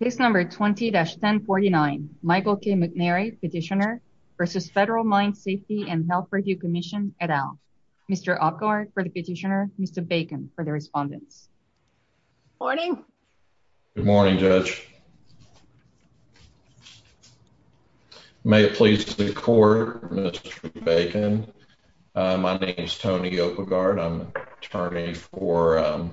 Case number 20-1049 Michael K. McNary Petitioner v. Federal Mine Safety and Health Review Commission, et al. Mr. Opgaard for the petitioner, Mr. Bacon for the respondents. Good morning. Good morning, Judge. May it please the court, Mr. Bacon. My name is Tony Opgaard. I'm an attorney for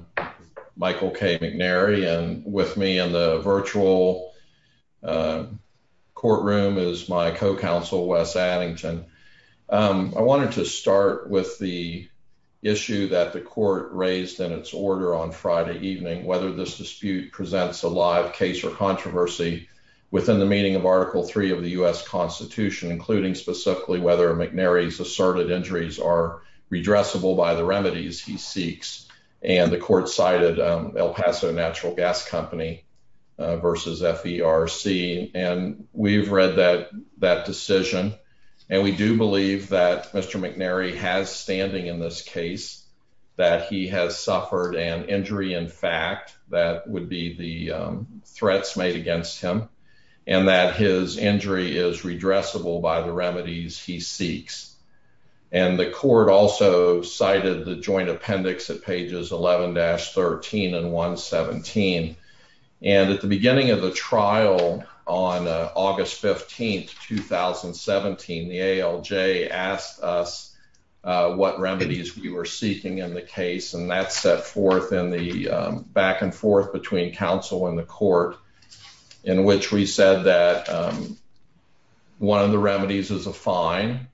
Michael K. McNary. And with me in the virtual courtroom is my co-counsel, Wes Addington. I wanted to start with the issue that the court raised in its order on Friday evening, whether this dispute presents a live case or controversy within the meaning of Article 3 of the U.S. Constitution, including specifically whether McNary's asserted injuries are redressable by the remedies he seeks. And the court cited El Paso Natural Gas Company versus FDRC. And we've read that decision. And we do believe that Mr. McNary has standing in this case, that he has suffered an injury in fact that would be the threats made against him, and that his injury is redressable by the remedies he seeks. And the court also cited the joint appendix at pages 11-13 and 117. And at the beginning of the trial on August 15, 2017, the ALJ asked us what remedies we were seeking in the case. And that set forth in the back and forth between counsel and the court, in which we said that one of the remedies is a fine.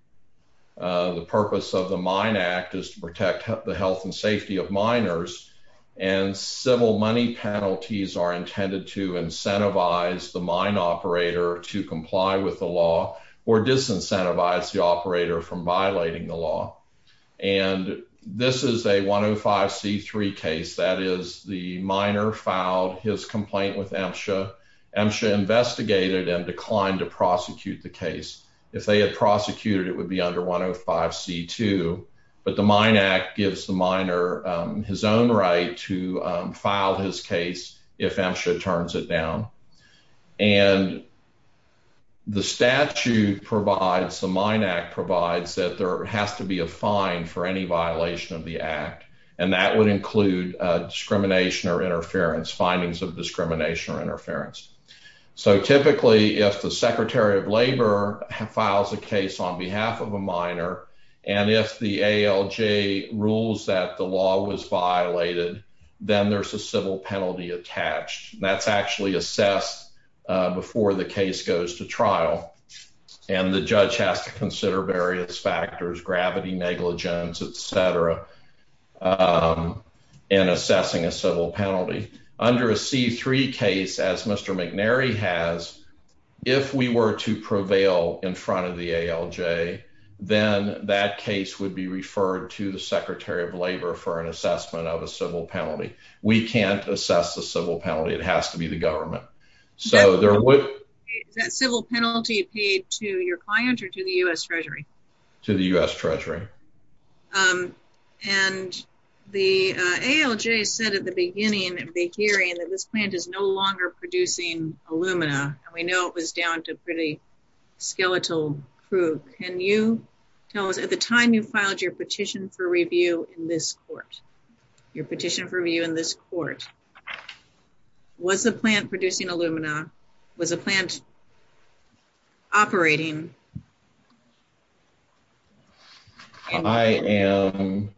The purpose of the Mine Act is to protect the health and safety of miners. And civil money penalties are intended to incentivize the mine operator to comply with the law or disincentivize the operator from violating the law. And this is a 105C3 case. That is, the miner filed his complaint with MSHA. MSHA investigated and declined to prosecute the case. If they had prosecuted, it would be under 105C2. But the Mine Act gives the miner his own right to file his case if MSHA turns it down. And the statute provides, the Mine Act provides, that there has to be a fine for any violation of the act. And that would include discrimination or interference, findings of discrimination or interference. So typically, if the Secretary of Labor files a case on behalf of a miner, and if the ALJ rules that the law was violated, then there's a civil penalty attached. That's actually assessed before the case goes to trial. And the judge has to consider various factors, gravity, negligence, et cetera, in assessing a civil penalty. Under a C3 case, as Mr. McNary has, if we were to prevail in front of the ALJ, then that case would be referred to the Secretary of Labor for an assessment of a civil penalty. We can't assess the civil penalty. It has to be the government. So there would... Is that civil penalty paid to your client or to the U.S. Treasury? To the U.S. Treasury. And the ALJ said at the beginning of the hearing that this plant is no longer producing alumina. And we know it was down to pretty skeletal proof. Can you tell us, at the time you filed your petition for review in this court, your petition for review in this court, was the plant producing alumina? Was the plant operating? I am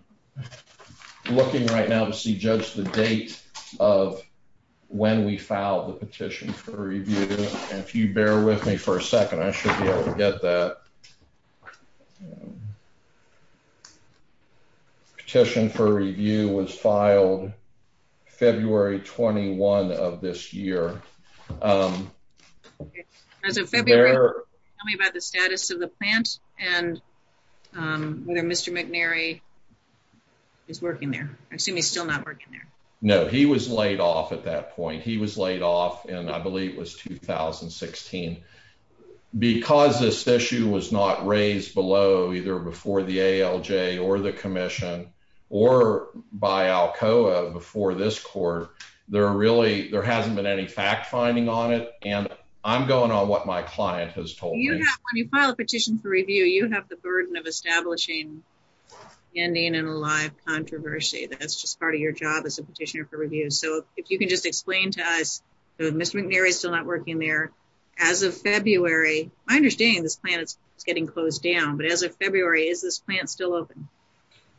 looking right now to see, Judge, the date of when we filed the petition for review. And if you bear with me for a second, I should be able to get that. Petition for review was filed February 21 of this year. As of February, tell me about the status of the plant and whether Mr. McNary is working there. I assume he's still not working there. No, he was laid off at that point. He was laid off in, I believe, it was 2016. Because this issue was not raised below, either before the ALJ or the commission, or by ALCOA before this court, there hasn't been any fact-finding on it. And I'm going on what my client has told me. When you file a petition for review, you have the burden of establishing an ending in a live controversy. That's just part of your job as a petitioner for review. So if you can just explain to us, Mr. McNary is still not working there. As of February, I understand this plant is getting closed down. But as of February, is this plant still open?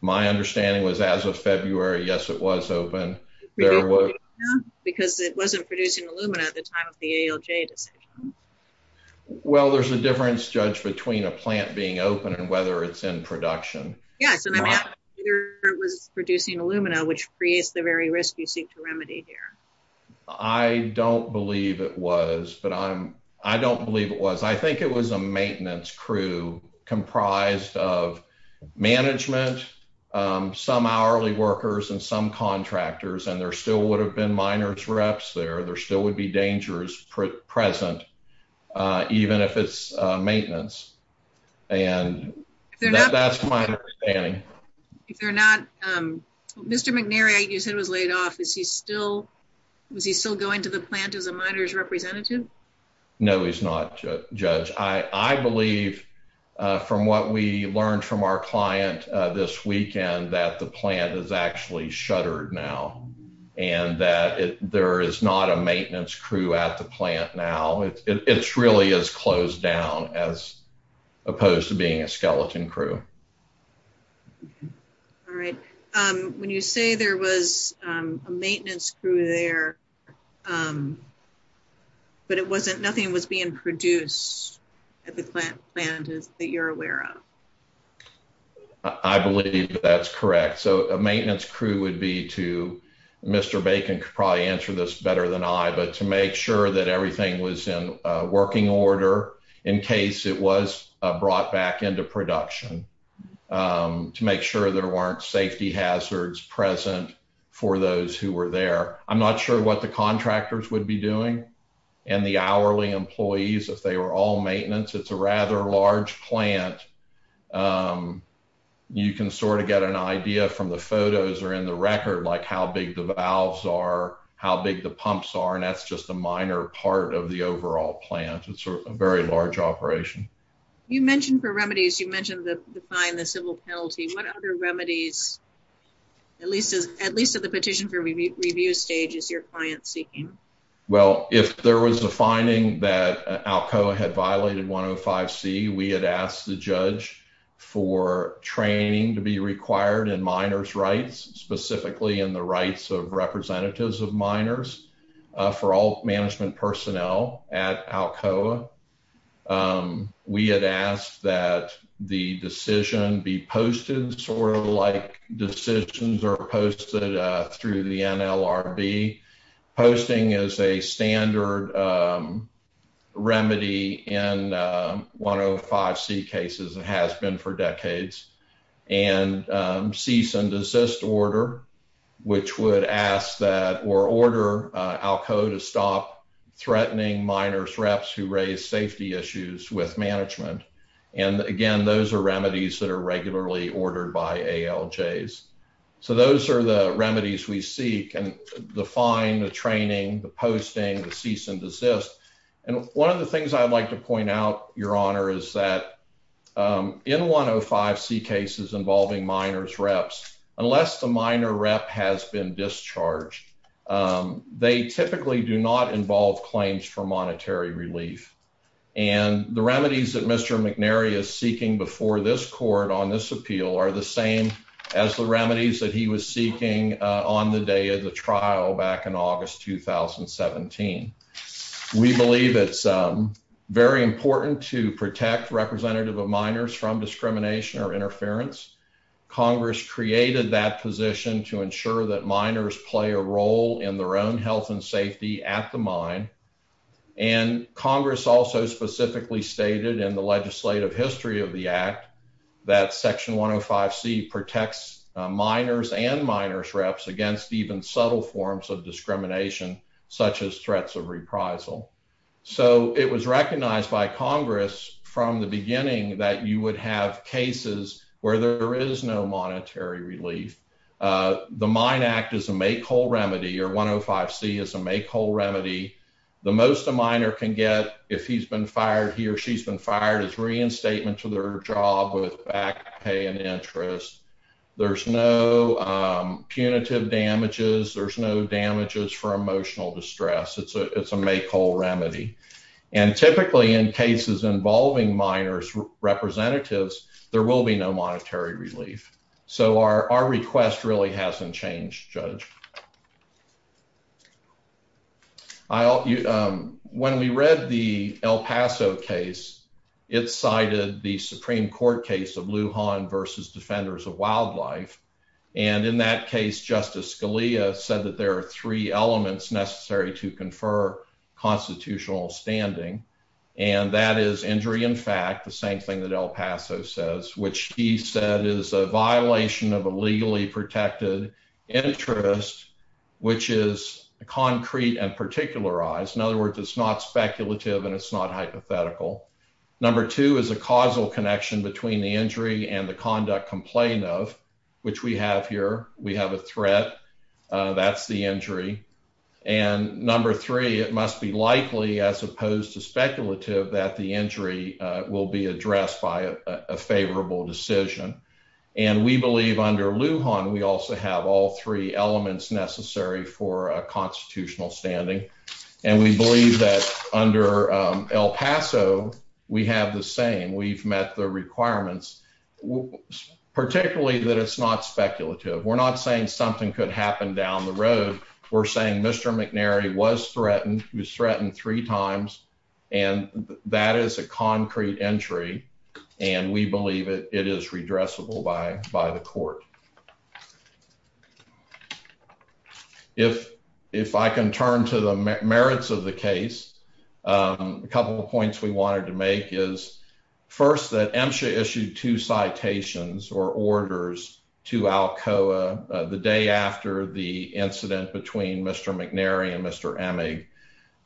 My understanding was as of February, yes, it was open. Because it wasn't producing alumina at the time of the ALJ decision. Well, there's a difference, Judge, between a plant being open and whether it's in production. Yes, and I'm asking whether it was producing alumina, which creates the very risk you seek to remedy here. I don't believe it was. But I don't believe it was. I think it was a maintenance crew comprised of management, some hourly workers, and some contractors. And there still would have been miners' reps there. There still would be dangers present, even if it's maintenance. And that's my understanding. Mr. McNary, you said was laid off. Was he still going to the plant as a miners' representative? No, he's not, Judge. I believe, from what we learned from our client this weekend, that the plant is actually shuttered now. And that there is not a maintenance crew at the plant now. It really is closed down, as opposed to being a skeleton crew. All right. When you say there was a maintenance crew there, but nothing was being produced at the plant that you're aware of. I believe that's correct. So a maintenance crew would be to, Mr. Bacon could probably answer this better than I, but to make sure that everything was in working order in case it was brought back into production, to make sure there weren't safety hazards present for those who were there. I'm not sure what the contractors would be doing and the hourly employees if they were all maintenance. It's a rather large plant. You can sort of get an idea from the photos or in the record, like how big the valves are, how big the pumps are, and that's just a minor part of the overall plant. It's a very large operation. You mentioned the remedies. You mentioned the fine, the civil penalty. What other remedies, at least at the petition for review stage, is your client seeking? Well, if there was a finding that Alcoa had violated 105C, we had asked the judge for training to be required in minors' rights, specifically in the rights of representatives of minors for all management personnel at Alcoa. We had asked that the decision be posted sort of like decisions are posted through the NLRB, posting as a standard remedy in 105C cases, and has been for decades, and cease and desist order, which would ask that or order Alcoa to stop threatening minors' reps who raise safety issues with management. And again, those are remedies that are regularly ordered by ALJs. So those are the remedies we seek, the fine, the training, the posting, the cease and desist. And one of the things I'd like to point out, Your Honor, is that in 105C cases involving minors' reps, unless the minor rep has been discharged, they typically do not involve claims for monetary relief. And the remedies that Mr. McNary is seeking before this court on this appeal are the same as the remedies that he was seeking on the day of the trial back in August 2017. We believe it's very important to protect representative of minors from discrimination or interference. Congress created that position to ensure that minors play a role in their own health and safety at the mine. And Congress also specifically stated in the legislative history of the Act that Section 105C protects minors and minors' reps against even subtle forms of discrimination, such as threats of reprisal. So it was recognized by Congress from the beginning that you would have cases where there is no monetary relief. The Mine Act is a make-whole remedy, or 105C is a make-whole remedy. The most a minor can get if he's been fired, he or she's been fired, is reinstatement to their job with back pay and interest. There's no punitive damages. There's no damages for emotional distress. It's a make-whole remedy. And typically in cases involving minors' representatives, there will be no monetary relief. So our request really hasn't changed, Judge. When we read the El Paso case, it cited the Supreme Court case of Lujan v. Defenders of Wildlife. And in that case, Justice Scalia said that there are three elements necessary to confer constitutional standing. And that is injury in fact, the same thing that El Paso says, which he said is a violation of a legally protected interest, which is concrete and particularized. In other words, it's not speculative and it's not hypothetical. Number two is a causal connection between the injury and the conduct complained of, which we have here. We have a threat. That's the injury. And number three, it must be likely as opposed to speculative that the injury will be addressed by a favorable decision. And we believe under Lujan, we also have all three elements necessary for constitutional standing. And we believe that under El Paso, we have the same. We've met the requirements, particularly that it's not speculative. We're not saying something could happen down the road. We're saying Mr. McNary was threatened. He was threatened three times. And that is a concrete entry. And we believe it is redressable by by the court. If if I can turn to the merits of the case, a couple of points we wanted to make is first, that Emsha issued two citations or orders to Alcoa the day after the incident between Mr. McNary and Mr. Emig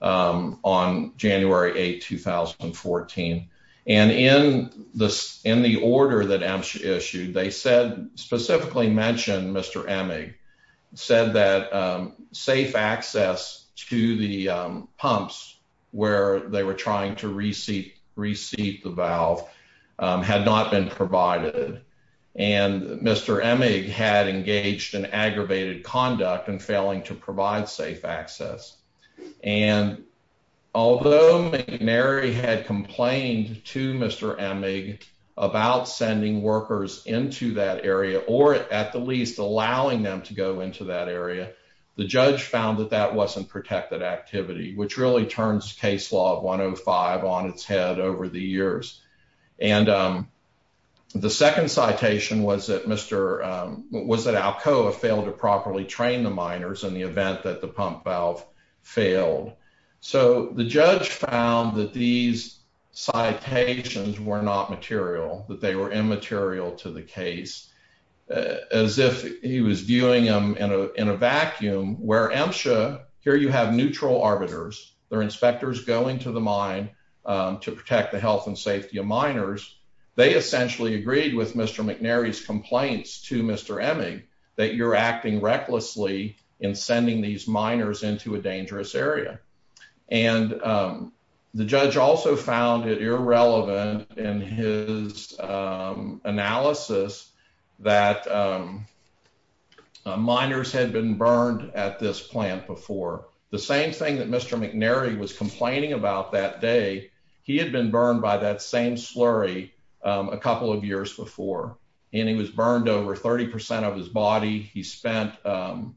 on January 8, 2014. And in this in the order that Emsha issued, they said specifically mentioned Mr. Emig said that safe access to the pumps where they were trying to receive receive the valve had not been provided. And Mr. Emig had engaged in aggravated conduct and failing to provide safe access. And although McNary had complained to Mr. Emig about sending workers into that area or at the least allowing them to go into that area, the judge found that that wasn't protected activity, which really turns case law 105 on its head over the years. Was that Alcoa failed to properly train the miners in the event that the pump valve failed? So the judge found that these citations were not material, that they were immaterial to the case, as if he was viewing them in a vacuum where Emsha here you have neutral arbiters, they're inspectors going to the mine to protect the health and safety of miners. They essentially agreed with Mr. McNary's complaints to Mr. Emig that you're acting recklessly in sending these miners into a dangerous area. And the judge also found it irrelevant in his analysis that miners had been burned at this plant before. The same thing that Mr. McNary was complaining about that day. He had been burned by that same slurry a couple of years before, and he was burned over 30 percent of his body. He spent time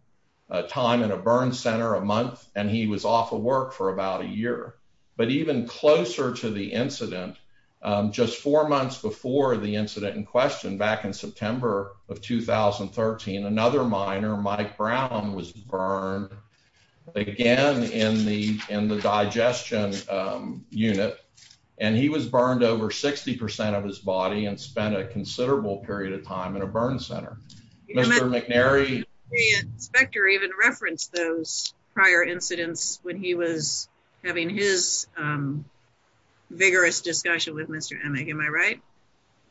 in a burn center a month and he was off of work for about a year. But even closer to the incident, just four months before the incident in question, back in September of 2013, another miner, Mike Brown, was burned again in the in the digestion unit, and he was burned over 60 percent of his body and spent a considerable period of time in a burn center. Mr. McNary. The inspector even referenced those prior incidents when he was having his vigorous discussion with Mr. Emig, am I right?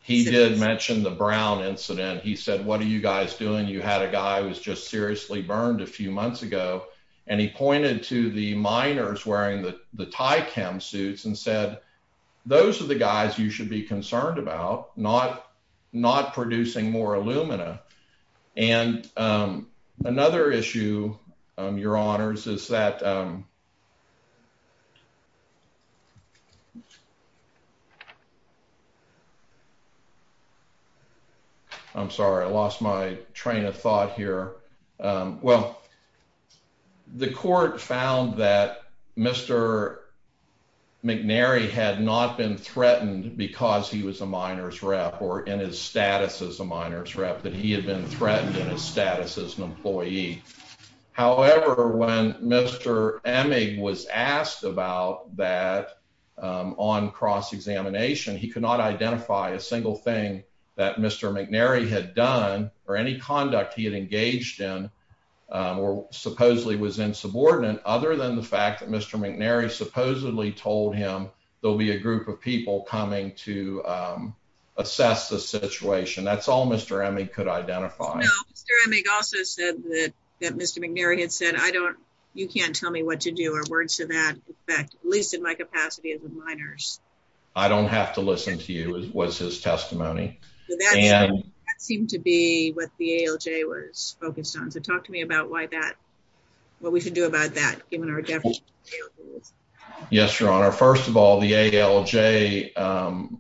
He did mention the Brown incident. He said, what are you guys doing? You had a guy who was just seriously burned a few months ago. And he pointed to the miners wearing the tie cam suits and said, those are the guys you should be concerned about. Not producing more alumina. And another issue, your honors, is that. I'm sorry, I lost my train of thought here. Well, the court found that Mr. McNary had not been threatened because he was a miners rep or in his status as a miners rep, that he had been threatened in his status as an employee. However, when Mr. Emig was asked about that on cross examination, he could not identify a single thing that Mr. McNary had done or any conduct he had engaged in or supposedly was insubordinate, other than the fact that Mr. McNary supposedly told him there'll be a group of people coming to assess the situation. That's all Mr. Emig could identify. Mr. Emig also said that Mr. McNary had said, I don't you can't tell me what to do. Or words to that effect, at least in my capacity as a miners. I don't have to listen to you was his testimony. That seemed to be what the ALJ was focused on. So talk to me about why that what we should do about that, given our definition. Yes, your honor. First of all, the ALJ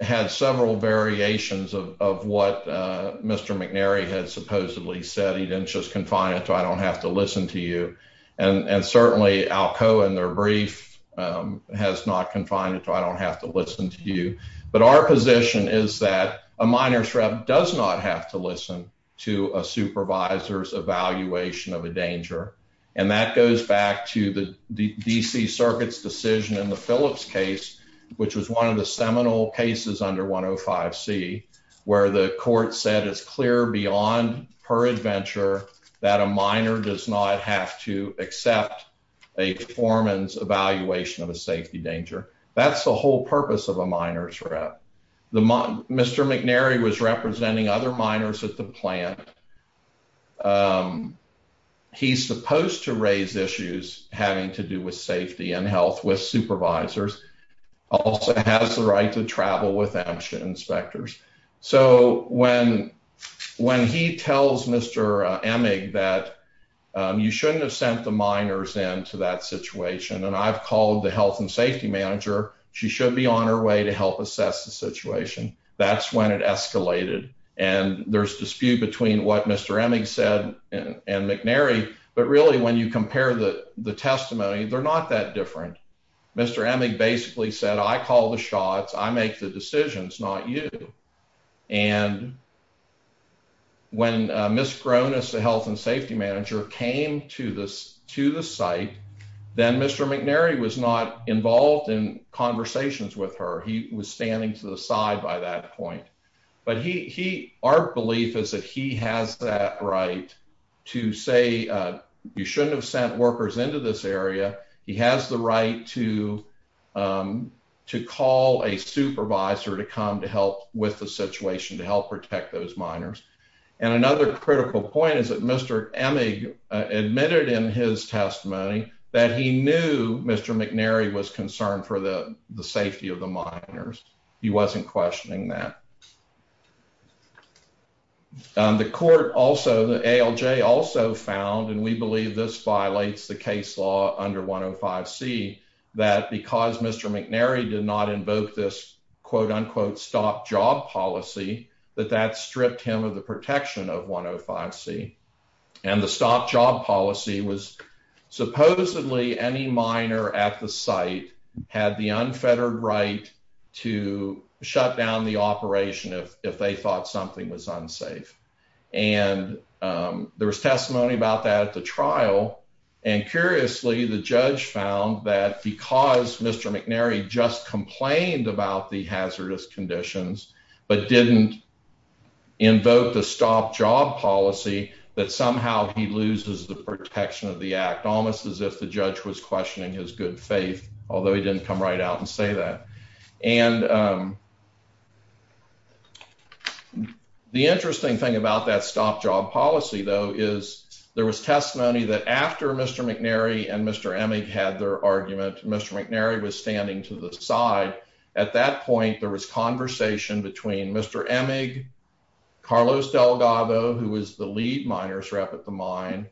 had several variations of what Mr. McNary had supposedly said. He didn't just confine it to I don't have to listen to you. And certainly Alcoa in their brief has not confined it to I don't have to listen to you. But our position is that a miners rep does not have to listen to a supervisor's evaluation of a danger. And that goes back to the D.C. Circuit's decision in the Phillips case, which was one of the seminal cases under 105 C, where the court said it's clear beyond per adventure that a minor does not have to accept a foreman's evaluation of a safety danger. That's the whole purpose of a miners rep. Mr. McNary was representing other miners at the plant. He's supposed to raise issues having to do with safety and health with supervisors. Also has the right to travel with inspectors. So when when he tells Mr. Emig that you shouldn't have sent the miners into that situation and I've called the health and safety manager, she should be on her way to help assess the situation. That's when it escalated. And there's dispute between what Mr. Emig said and McNary. But really, when you compare the the testimony, they're not that different. Mr. Emig basically said, I call the shots. I make the decisions, not you. And. When Miss Cronus, the health and safety manager, came to this to the site, then Mr. McNary was not involved in conversations with her. He was standing to the side by that point. But he he our belief is that he has that right to say you shouldn't have sent workers into this area. He has the right to to call a supervisor to come to help with the situation to help protect those miners. And another critical point is that Mr. Emig admitted in his testimony that he knew Mr. McNary was concerned for the safety of the miners. He wasn't questioning that. The court also the ALJ also found, and we believe this violates the case law under 105 C, that because Mr. McNary did not invoke this, quote unquote, stop job policy, that that stripped him of the protection of 105 C. And the stop job policy was supposedly any minor at the site had the unfettered right to shut down the operation if if they thought something was unsafe. And there was testimony about that at the trial. And curiously, the judge found that because Mr. McNary just complained about the hazardous conditions, but didn't invoke the stop job policy, that somehow he loses the protection of the act, almost as if the judge was questioning his good faith, although he didn't come right out and say that. And the interesting thing about that stop job policy, though, is there was testimony that after Mr. McNary and Mr. Emig had their argument, Mr. McNary was standing to the side. At that point, there was conversation between Mr. Emig, Carlos Delgado, who was the lead miners rep at the mine,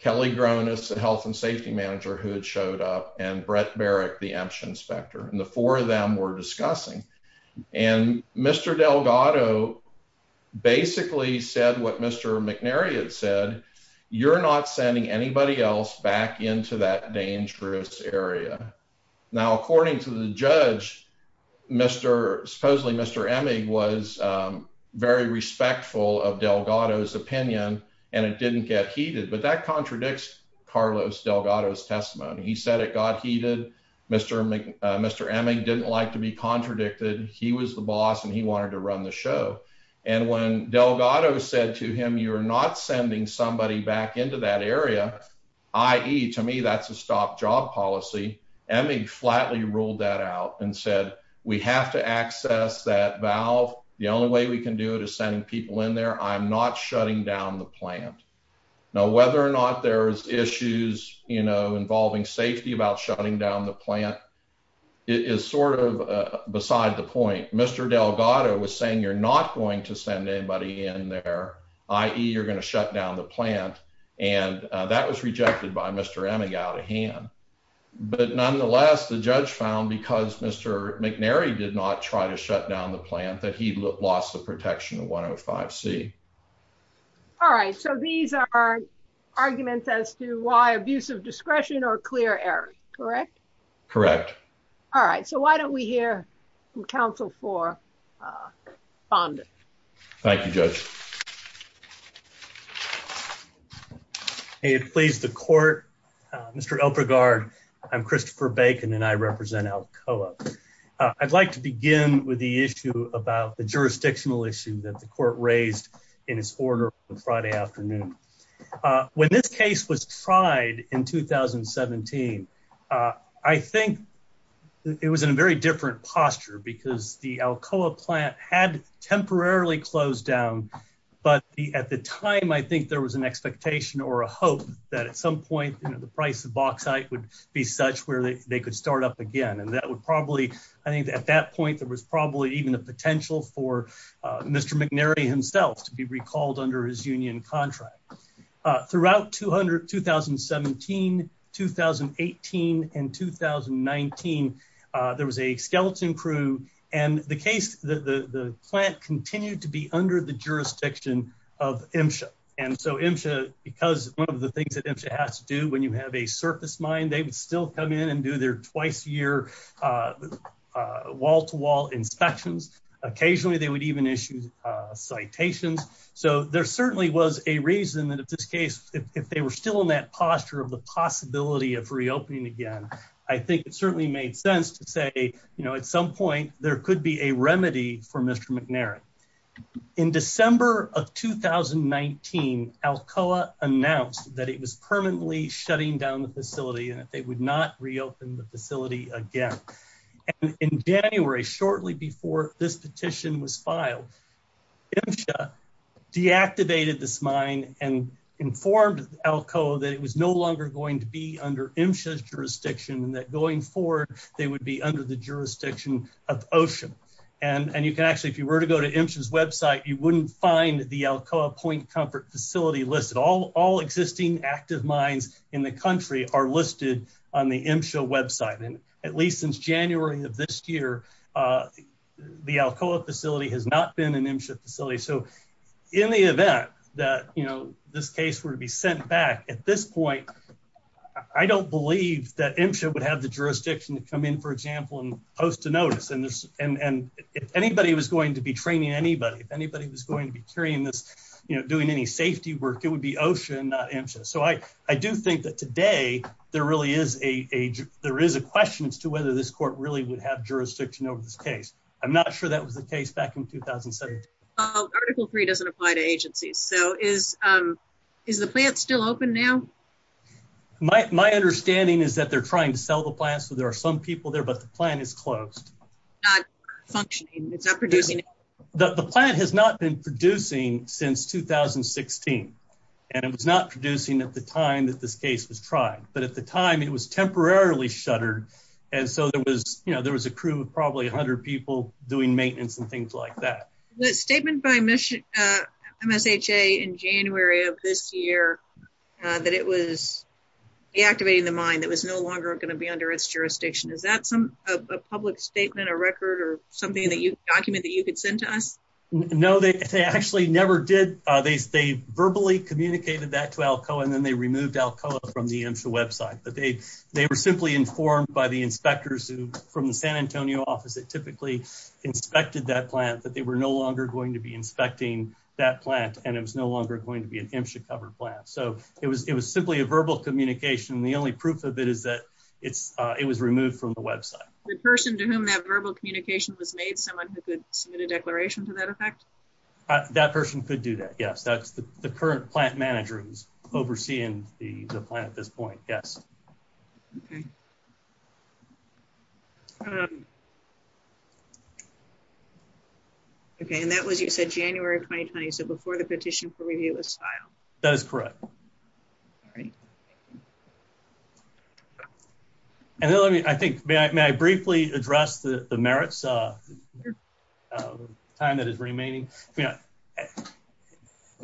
Kelly Gronus, the health and safety manager who had showed up and Brett Baric, the inspection inspector. And the four of them were discussing. And Mr. Delgado basically said what Mr. McNary had said. You're not sending anybody else back into that dangerous area. Now, according to the judge, Mr. supposedly Mr. Emig was very respectful of Delgado's opinion and it didn't get heated. But that contradicts Carlos Delgado's testimony. He said it got heated. Mr. Mr. Emig didn't like to be contradicted. He was the boss and he wanted to run the show. And when Delgado said to him, you're not sending somebody back into that area, i.e., to me, that's a stop job policy. Emig flatly ruled that out and said, we have to access that valve. The only way we can do it is sending people in there. I'm not shutting down the plant. Now, whether or not there's issues involving safety about shutting down the plant is sort of beside the point. Mr. Delgado was saying you're not going to send anybody in there, i.e., you're going to shut down the plant. And that was rejected by Mr. Emig out of hand. But nonetheless, the judge found, because Mr. McNary did not try to shut down the plant, that he lost the protection of 105C. All right. So these are arguments as to why abuse of discretion or clear error, correct? Correct. All right. So why don't we hear from counsel for Fonda? Thank you, Judge. It please the court. Mr. Elk regard. I'm Christopher Bacon, and I represent Alcoa. I'd like to begin with the issue about the jurisdictional issue that the court raised in his order on Friday afternoon. When this case was tried in 2017, I think it was in a very different posture because the Alcoa plant had temporarily closed down. But at the time, I think there was an expectation or a hope that at some point the price of bauxite would be such where they could start up again. And that would probably I think at that point, there was probably even a potential for Mr. McNary himself to be recalled under his union contract. Throughout 2017, 2018 and 2019, there was a skeleton crew and the case, the plant continued to be under the jurisdiction of MSHA. And so MSHA, because one of the things that MSHA has to do when you have a surface mine, they would still come in and do their twice a year wall to wall inspections. Occasionally they would even issue citations. So there certainly was a reason that at this case, if they were still in that posture of the possibility of reopening again, I think it certainly made sense to say, you know, at some point, there could be a remedy for Mr. McNary. In December of 2019 Alcoa announced that it was permanently shutting down the facility and that they would not reopen the facility again. In January, shortly before this petition was filed, MSHA deactivated this mine and informed Alcoa that it was no longer going to be under MSHA's jurisdiction and that going forward, they would be under the jurisdiction of OSHA. And you can actually, if you were to go to MSHA's website, you wouldn't find the Alcoa Point Comfort Facility listed. All existing active mines in the country are listed on the MSHA website. And at least since January of this year, the Alcoa facility has not been an MSHA facility. So in the event that, you know, this case were to be sent back at this point, I don't believe that MSHA would have the jurisdiction to come in, for example, and post a notice. And if anybody was going to be training anybody, if anybody was going to be carrying this, you know, doing any safety work, it would be OSHA and not MSHA. So I do think that today there really is a question as to whether this court really would have jurisdiction over this case. I'm not sure that was the case back in 2017. Well, Article 3 doesn't apply to agencies. So is the plant still open now? My understanding is that they're trying to sell the plant. So there are some people there, but the plant is closed. Not functioning. It's not producing. The plant has not been producing since 2016. And it was not producing at the time that this case was tried. But at the time, it was temporarily shuttered. And so there was, you know, there was a crew of probably 100 people doing maintenance and things like that. The statement by MSHA in January of this year that it was deactivating the mine that was no longer going to be under its jurisdiction. Is that a public statement, a record, or something that you document that you could send to us? No, they actually never did. They verbally communicated that to ALCOA, and then they removed ALCOA from the MSHA website. But they were simply informed by the inspectors from the San Antonio office that typically inspected that plant, that they were no longer going to be inspecting that plant, and it was no longer going to be an MSHA-covered plant. So it was simply a verbal communication. The only proof of it is that it was removed from the website. The person to whom that verbal communication was made, someone who could submit a declaration to that effect? That person could do that, yes. That's the current plant manager who's overseeing the plant at this point, yes. Okay, and that was, you said, January 2020, so before the petition for review was filed. That is correct. All right. And then let me, I think, may I briefly address the merits of the time that is remaining? You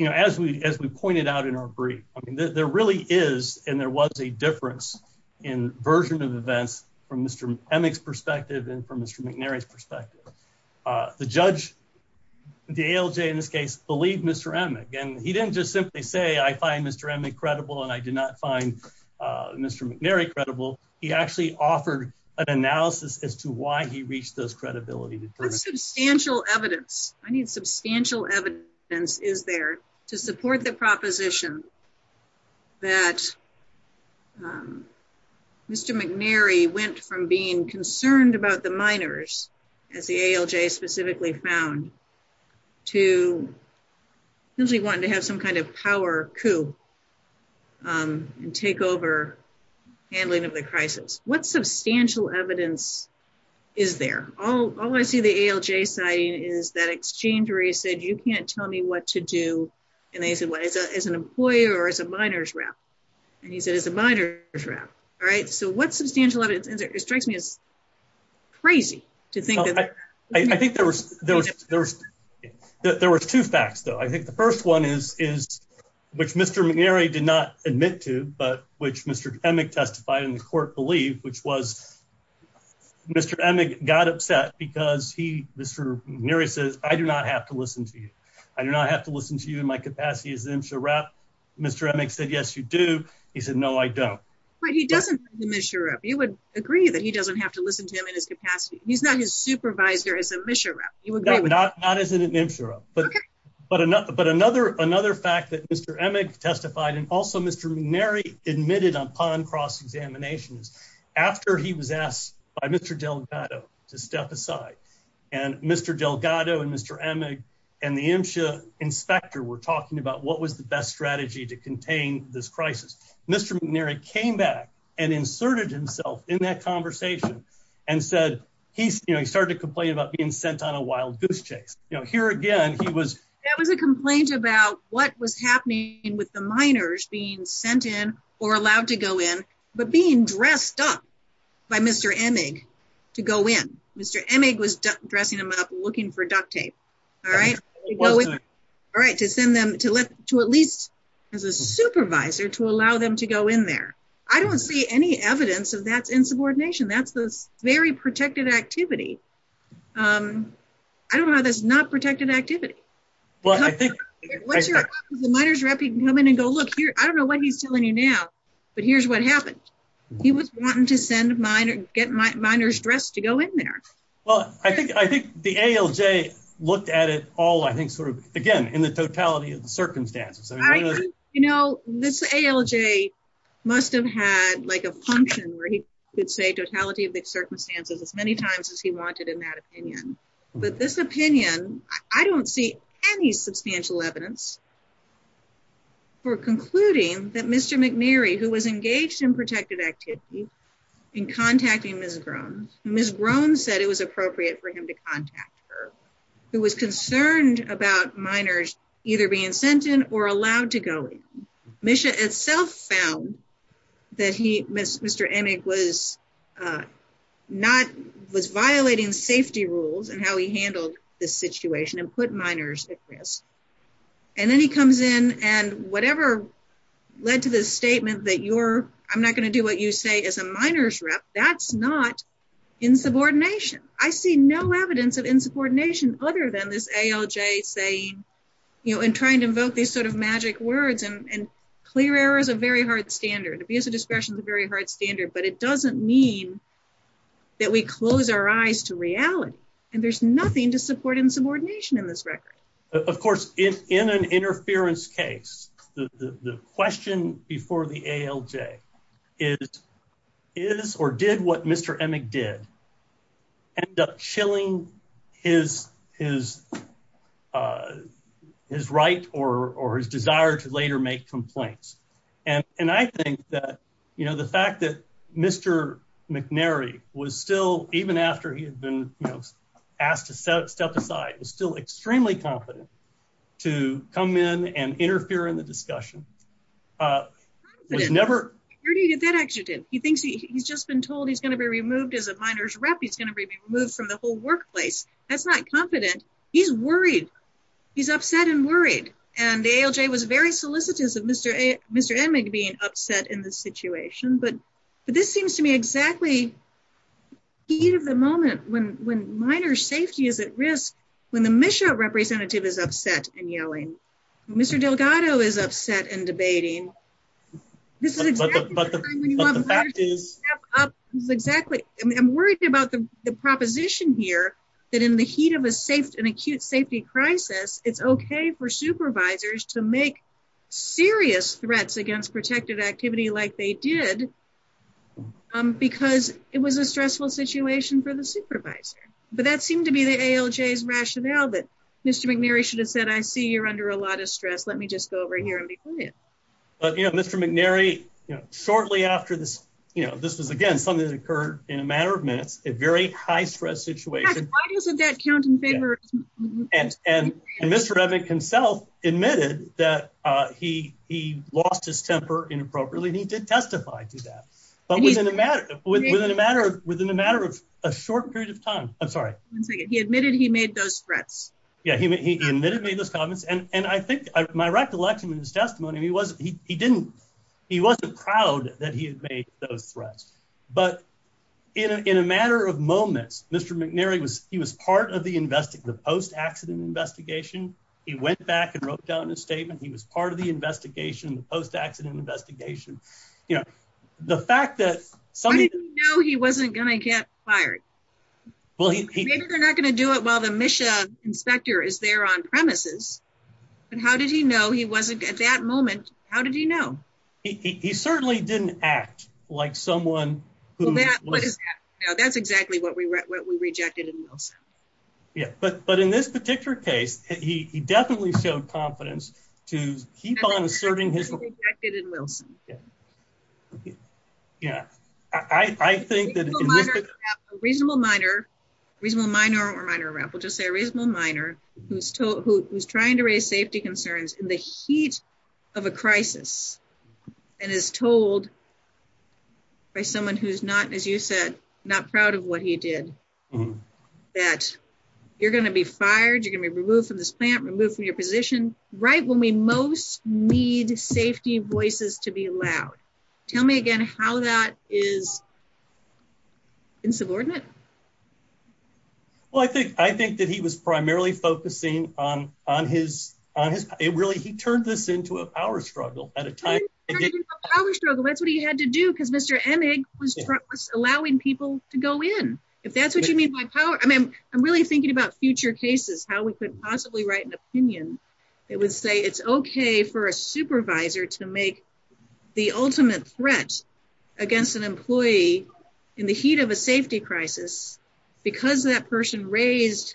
know, as we pointed out in our brief, I mean, there really is and there was a difference in version of events from Mr. Emick's perspective and from Mr. McNary's perspective. The judge, the ALJ in this case, believed Mr. Emick. And he didn't just simply say, I find Mr. Emick credible and I did not find Mr. McNary credible. He actually offered an analysis as to why he reached those credibility determinants. What substantial evidence, I need substantial evidence, is there to support the proposition that Mr. McNary went from being concerned about the miners, as the ALJ specifically found, to simply wanting to have some kind of power coup and take over handling of the crisis? What substantial evidence is there? All I see the ALJ citing is that exchange where he said, you can't tell me what to do. And they said, what, as an employer or as a miners rep? And he said, as a miners rep. All right, so what substantial evidence, it strikes me as crazy to think that. I think there was two facts, though. I think the first one is, which Mr. McNary did not admit to, but which Mr. Emick testified in the court believed, which was Mr. Emick got upset because he, Mr. McNary says, I do not have to listen to you. I do not have to listen to you in my capacity as MSHA rep. Mr. Emick said, yes, you do. He said, no, I don't. But he doesn't MSHA rep. You would agree that he doesn't have to listen to him in his capacity. He's not his supervisor as a MSHA rep. Not as an MSHA rep. But another fact that Mr. Emick testified and also Mr. McNary admitted upon cross-examination is, after he was asked by Mr. Delgado to step aside, and Mr. Delgado and Mr. Emick and the MSHA inspector were talking about what was the best strategy to contain this crisis. Mr. McNary came back and inserted himself in that conversation and said, he started to complain about being sent on a wild goose chase. You know, here again, he was. That was a complaint about what was happening with the minors being sent in or allowed to go in, but being dressed up by Mr. Emick to go in. Mr. Emick was dressing him up looking for duct tape. All right. All right, to send them to at least as a supervisor to allow them to go in there. I don't see any evidence of that insubordination. That's this very protected activity. I don't know how that's not protected activity. Well, I think the minors rep, you can come in and go look here. I don't know what he's telling you now, but here's what happened. He was wanting to send a minor, get minors dressed to go in there. Well, I think the ALJ looked at it all, I think, sort of, again, in the totality of the circumstances. You know, this ALJ must have had, like, a function where he could say totality of the circumstances as many times as he wanted in that opinion. But this opinion, I don't see any substantial evidence for concluding that Mr. McNary, who was engaged in protected activity, in contacting Ms. Grone. Ms. Grone said it was appropriate for him to contact her, who was concerned about minors either being sent in or allowed to go in. Misha itself found that he, Mr. Emig, was not, was violating safety rules and how he handled this situation and put minors at risk. And then he comes in and whatever led to this statement that you're, I'm not going to do what you say as a minors rep, that's not insubordination. I see no evidence of insubordination other than this ALJ saying, you know, and trying to invoke these sort of magic words and clear error is a very hard standard. Abuse of discretion is a very hard standard, but it doesn't mean that we close our eyes to reality. And there's nothing to support insubordination in this record. Of course, in an interference case, the question before the ALJ is, is or did what Mr. Emig did end up chilling his right or his desire to later make complaints? And I think that, you know, the fact that Mr. McNary was still, even after he had been asked to step aside, was still extremely confident to come in and interfere in the discussion. He thinks he's just been told he's going to be removed as a minors rep. He's going to be removed from the whole workplace. That's not confident. He's worried. He's upset and worried. And the ALJ was very solicitous of Mr. Emig being upset in this situation. But this seems to me exactly the heat of the moment when minor safety is at risk, when the MSHA representative is upset and yelling. Mr. Delgado is upset and debating. This is exactly the time when you want minors to step up. I'm worried about the proposition here that in the heat of an acute safety crisis, it's okay for supervisors to make serious threats against protected activity like they did because it was a stressful situation for the supervisor. But that seemed to be the ALJ's rationale that Mr. McNary should have said, I see you're under a lot of stress. Let me just go over here and be quiet. But, you know, Mr. McNary, you know, shortly after this, you know, this was again something that occurred in a matter of minutes, a very high stress situation. Why doesn't that count in favor? And Mr. Emig himself admitted that he lost his temper inappropriately and he did testify to that. But within a matter of a short period of time, I'm sorry. He admitted he made those threats. Yeah, he admitted he made those comments. And I think my recollection in his testimony, he wasn't proud that he had made those threats. But in a matter of moments, Mr. McNary, he was part of the post-accident investigation. He went back and wrote down his statement. He was part of the investigation, the post-accident investigation. How did he know he wasn't going to get fired? Maybe they're not going to do it while the MISHA inspector is there on premises. But how did he know he wasn't, at that moment, how did he know? He certainly didn't act like someone who... That's exactly what we rejected in Wilson. But in this particular case, he definitely showed confidence to keep on asserting his... That's exactly what we rejected in Wilson. Yeah, I think that... A reasonable minor, reasonable minor or minor rep, we'll just say a reasonable minor, who's trying to raise safety concerns in the heat of a crisis. And is told by someone who's not, as you said, not proud of what he did, that you're going to be fired, you're going to be removed from this plant, removed from your position, right when we most need safety voices to be loud. Tell me again how that is insubordinate. Well, I think that he was primarily focusing on his... Really, he turned this into a power struggle at a time... Power struggle, that's what he had to do because Mr. Emig was allowing people to go in. If that's what you mean by power... I mean, I'm really thinking about future cases, how we could possibly write an opinion that would say it's okay for a supervisor to make the ultimate threat against an employee in the heat of a safety crisis. Because that person raised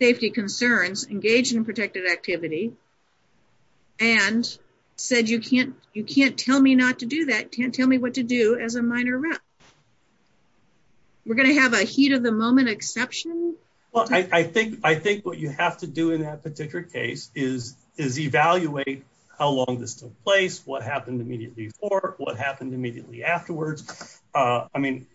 safety concerns, engaged in protected activity, and said, you can't tell me not to do that, can't tell me what to do as a minor rep. We're going to have a heat of the moment exception? Well, I think what you have to do in that particular case is evaluate how long this took place, what happened immediately before, what happened immediately afterwards. I mean,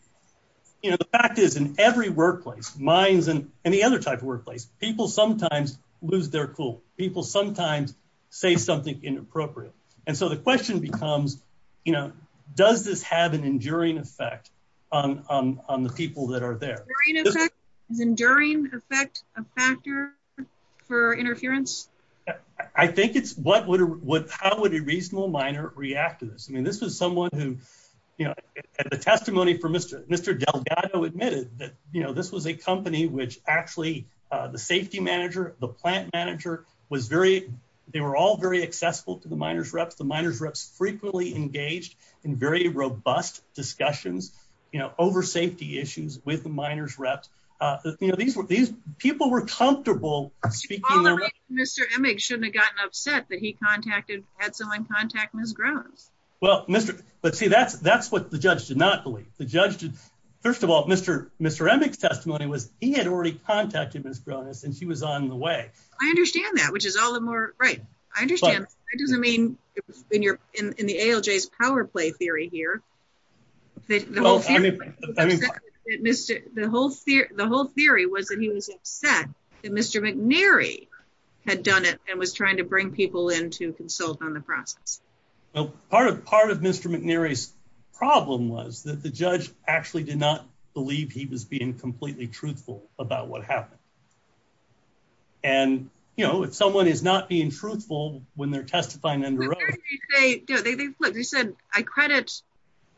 you know, the fact is in every workplace, mines and any other type of workplace, people sometimes lose their cool. People sometimes say something inappropriate. And so the question becomes, you know, does this have an enduring effect on the people that are there? Is enduring effect a factor for interference? I think it's how would a reasonable minor react to this? I mean, this was someone who, you know, the testimony from Mr. Delgado admitted that, you know, this was a company which actually the safety manager, the plant manager was very, they were all very accessible to the minors reps. The minors reps frequently engaged in very robust discussions, you know, over safety issues with the minors reps. You know, these were these people were comfortable speaking. Mr. Emick shouldn't have gotten upset that he contacted, had someone contact Ms. Grones. Well, Mr. But see, that's, that's what the judge did not believe. The judge did. First of all, Mr. Mr. Emick's testimony was he had already contacted Ms. Grones and she was on the way. I understand that, which is all the more right. I understand. It doesn't mean in your in the ALJs power play theory here. Mr. The whole fear. The whole theory was that he was upset that Mr. McNary had done it and was trying to bring people in to consult on the process. Part of part of Mr. McNary's problem was that the judge actually did not believe he was being completely truthful about what happened. And, you know, if someone is not being truthful when they're testifying and they said, I credit.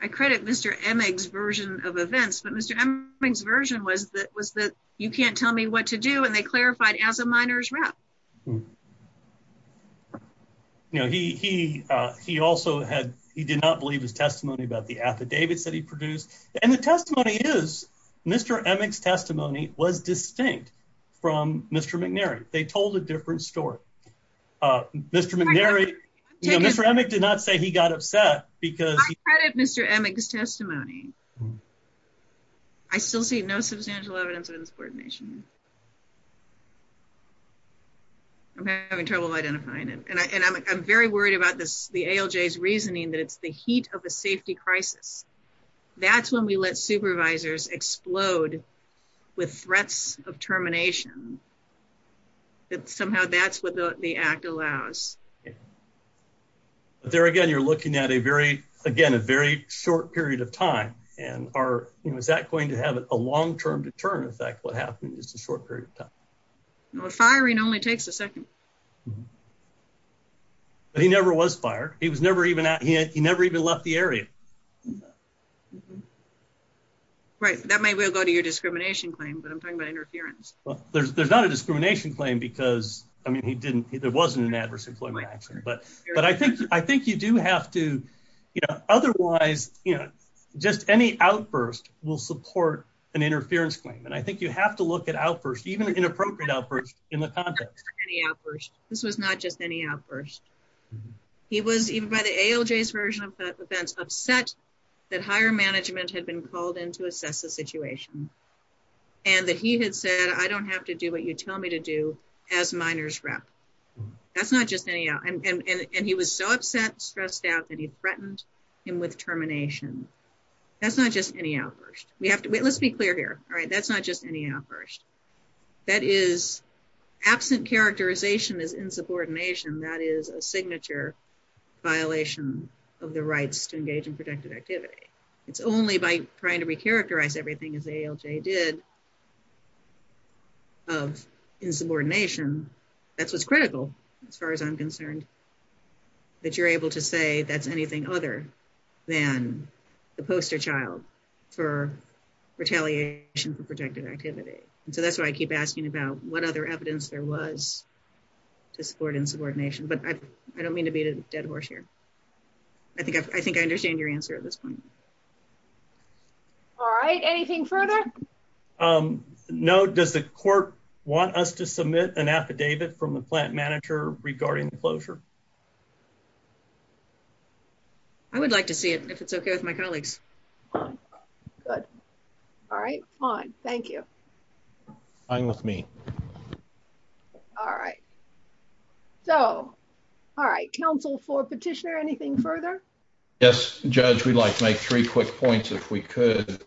I credit Mr. Emick's version of events, but Mr. Emick's version was that was that you can't tell me what to do. And they clarified as a minors rep. You know, he, he, he also had, he did not believe his testimony about the affidavits that he produced. And the testimony is Mr. Emick's testimony was distinct from Mr. McNary, they told a different story. Mr. McNary, Mr. Emick did not say he got upset because Mr. Emick's testimony. I still see no substantial evidence of insubordination. I'm having trouble identifying it and I'm very worried about this, the ALJs reasoning that it's the heat of a safety crisis. That's when we let supervisors explode with threats of termination. That somehow that's what the act allows. But there again, you're looking at a very, again, a very short period of time and are, you know, is that going to have a long term deterrent effect? What happened in just a short period of time? Firing only takes a second. But he never was fired. He was never even, he never even left the area. Right. That may well go to your discrimination claim, but I'm talking about interference. There's not a discrimination claim because, I mean, he didn't, there wasn't an adverse employment action, but, but I think, I think you do have to, you know, otherwise, you know, just any outburst will support an interference claim. And I think you have to look at outbursts, even inappropriate outbursts in the context. This was not just any outburst. He was even by the ALJ's version of events upset that higher management had been called in to assess the situation, and that he had said, I don't have to do what you tell me to do as minors rep. That's not just any, and he was so upset, stressed out that he threatened him with termination. That's not just any outburst. We have to, let's be clear here. All right, that's not just any outburst. That is absent characterization as insubordination, that is a signature violation of the rights to engage in protective activity. It's only by trying to recharacterize everything as ALJ did of insubordination, that's what's critical, as far as I'm concerned, that you're able to say that's anything other than the poster child for retaliation for protective activity. And so that's why I keep asking about what other evidence there was to support insubordination, but I don't mean to beat a dead horse here. I think I think I understand your answer at this point. All right. Anything further? No. Does the court want us to submit an affidavit from the plant manager regarding the closure? I would like to see it, if it's okay with my colleagues. Good. All right, fine. Thank you. Fine with me. All right. So, all right. Counsel for petitioner, anything further? Yes, Judge, we'd like to make three quick points, if we could.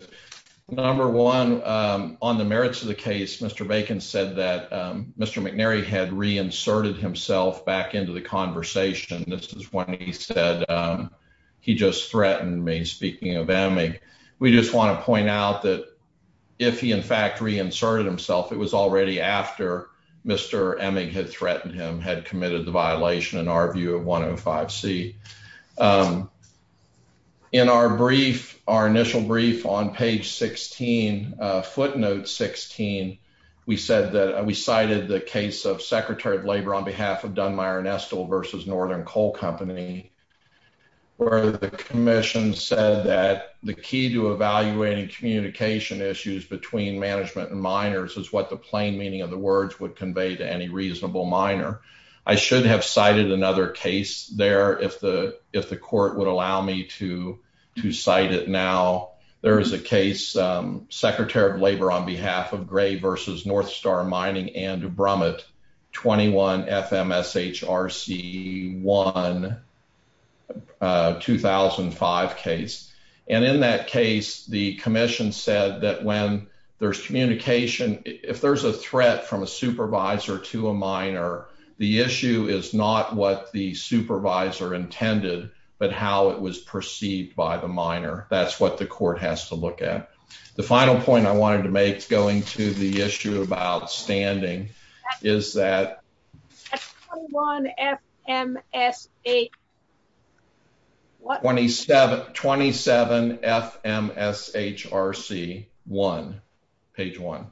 Number one, on the merits of the case, Mr. Bacon said that Mr. McNary had reinserted himself back into the conversation. This is when he said he just threatened me. Speaking of Emig, we just want to point out that if he, in fact, reinserted himself, it was already after Mr. Emig had threatened him, had committed the violation, in our view, of 105C. In our brief, our initial brief on page 16, footnote 16, we said that we cited the case of Secretary of Labor on behalf of Dunmire and Estill versus Northern Coal Company, where the commission said that the key to evaluating communication issues between management and miners is what the plain meaning of the words would convey to any reasonable miner. I should have cited another case there, if the court would allow me to cite it now. There is a case, Secretary of Labor on behalf of Gray versus Northstar Mining and Brumit, 21FMSHRC1, 2005 case. In that case, the commission said that when there's communication, if there's a threat from a supervisor to a miner, the issue is not what the supervisor intended, but how it was perceived by the miner. That's what the court has to look at. The final point I wanted to make, going to the issue of outstanding, is that... That's 21FMSH... 27FMSHRC1, page 1,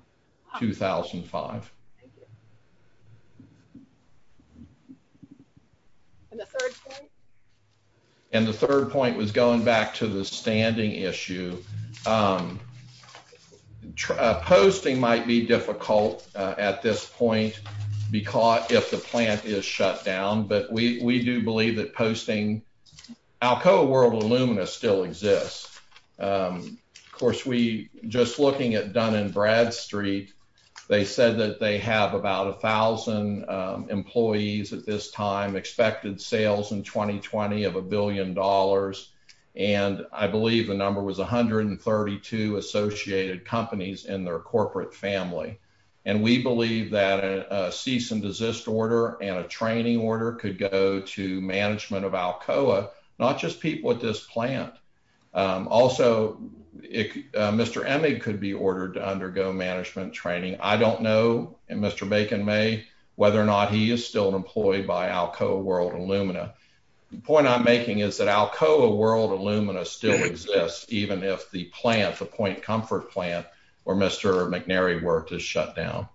2005. Thank you. And the third point? And the third point was going back to the standing issue. Posting might be difficult at this point, because if the plant is shut down, but we do believe that posting... Alcoa World Illumina still exists. Of course, we... Just looking at Dun & Bradstreet, they said that they have about 1,000 employees at this time, expected sales in 2020 of a billion dollars. And I believe the number was 132 associated companies in their corporate family. And we believe that a cease and desist order and a training order could go to management of Alcoa, not just people at this plant. Also, Mr. Emig could be ordered to undergo management training. I don't know, and Mr. Bacon may, whether or not he is still employed by Alcoa World Illumina. The point I'm making is that Alcoa World Illumina still exists, even if the plant, the Point Comfort plant where Mr. McNary worked is shut down.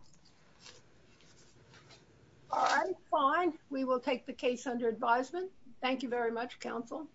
All right, fine. We will take the case under advisement. Thank you very much, counsel.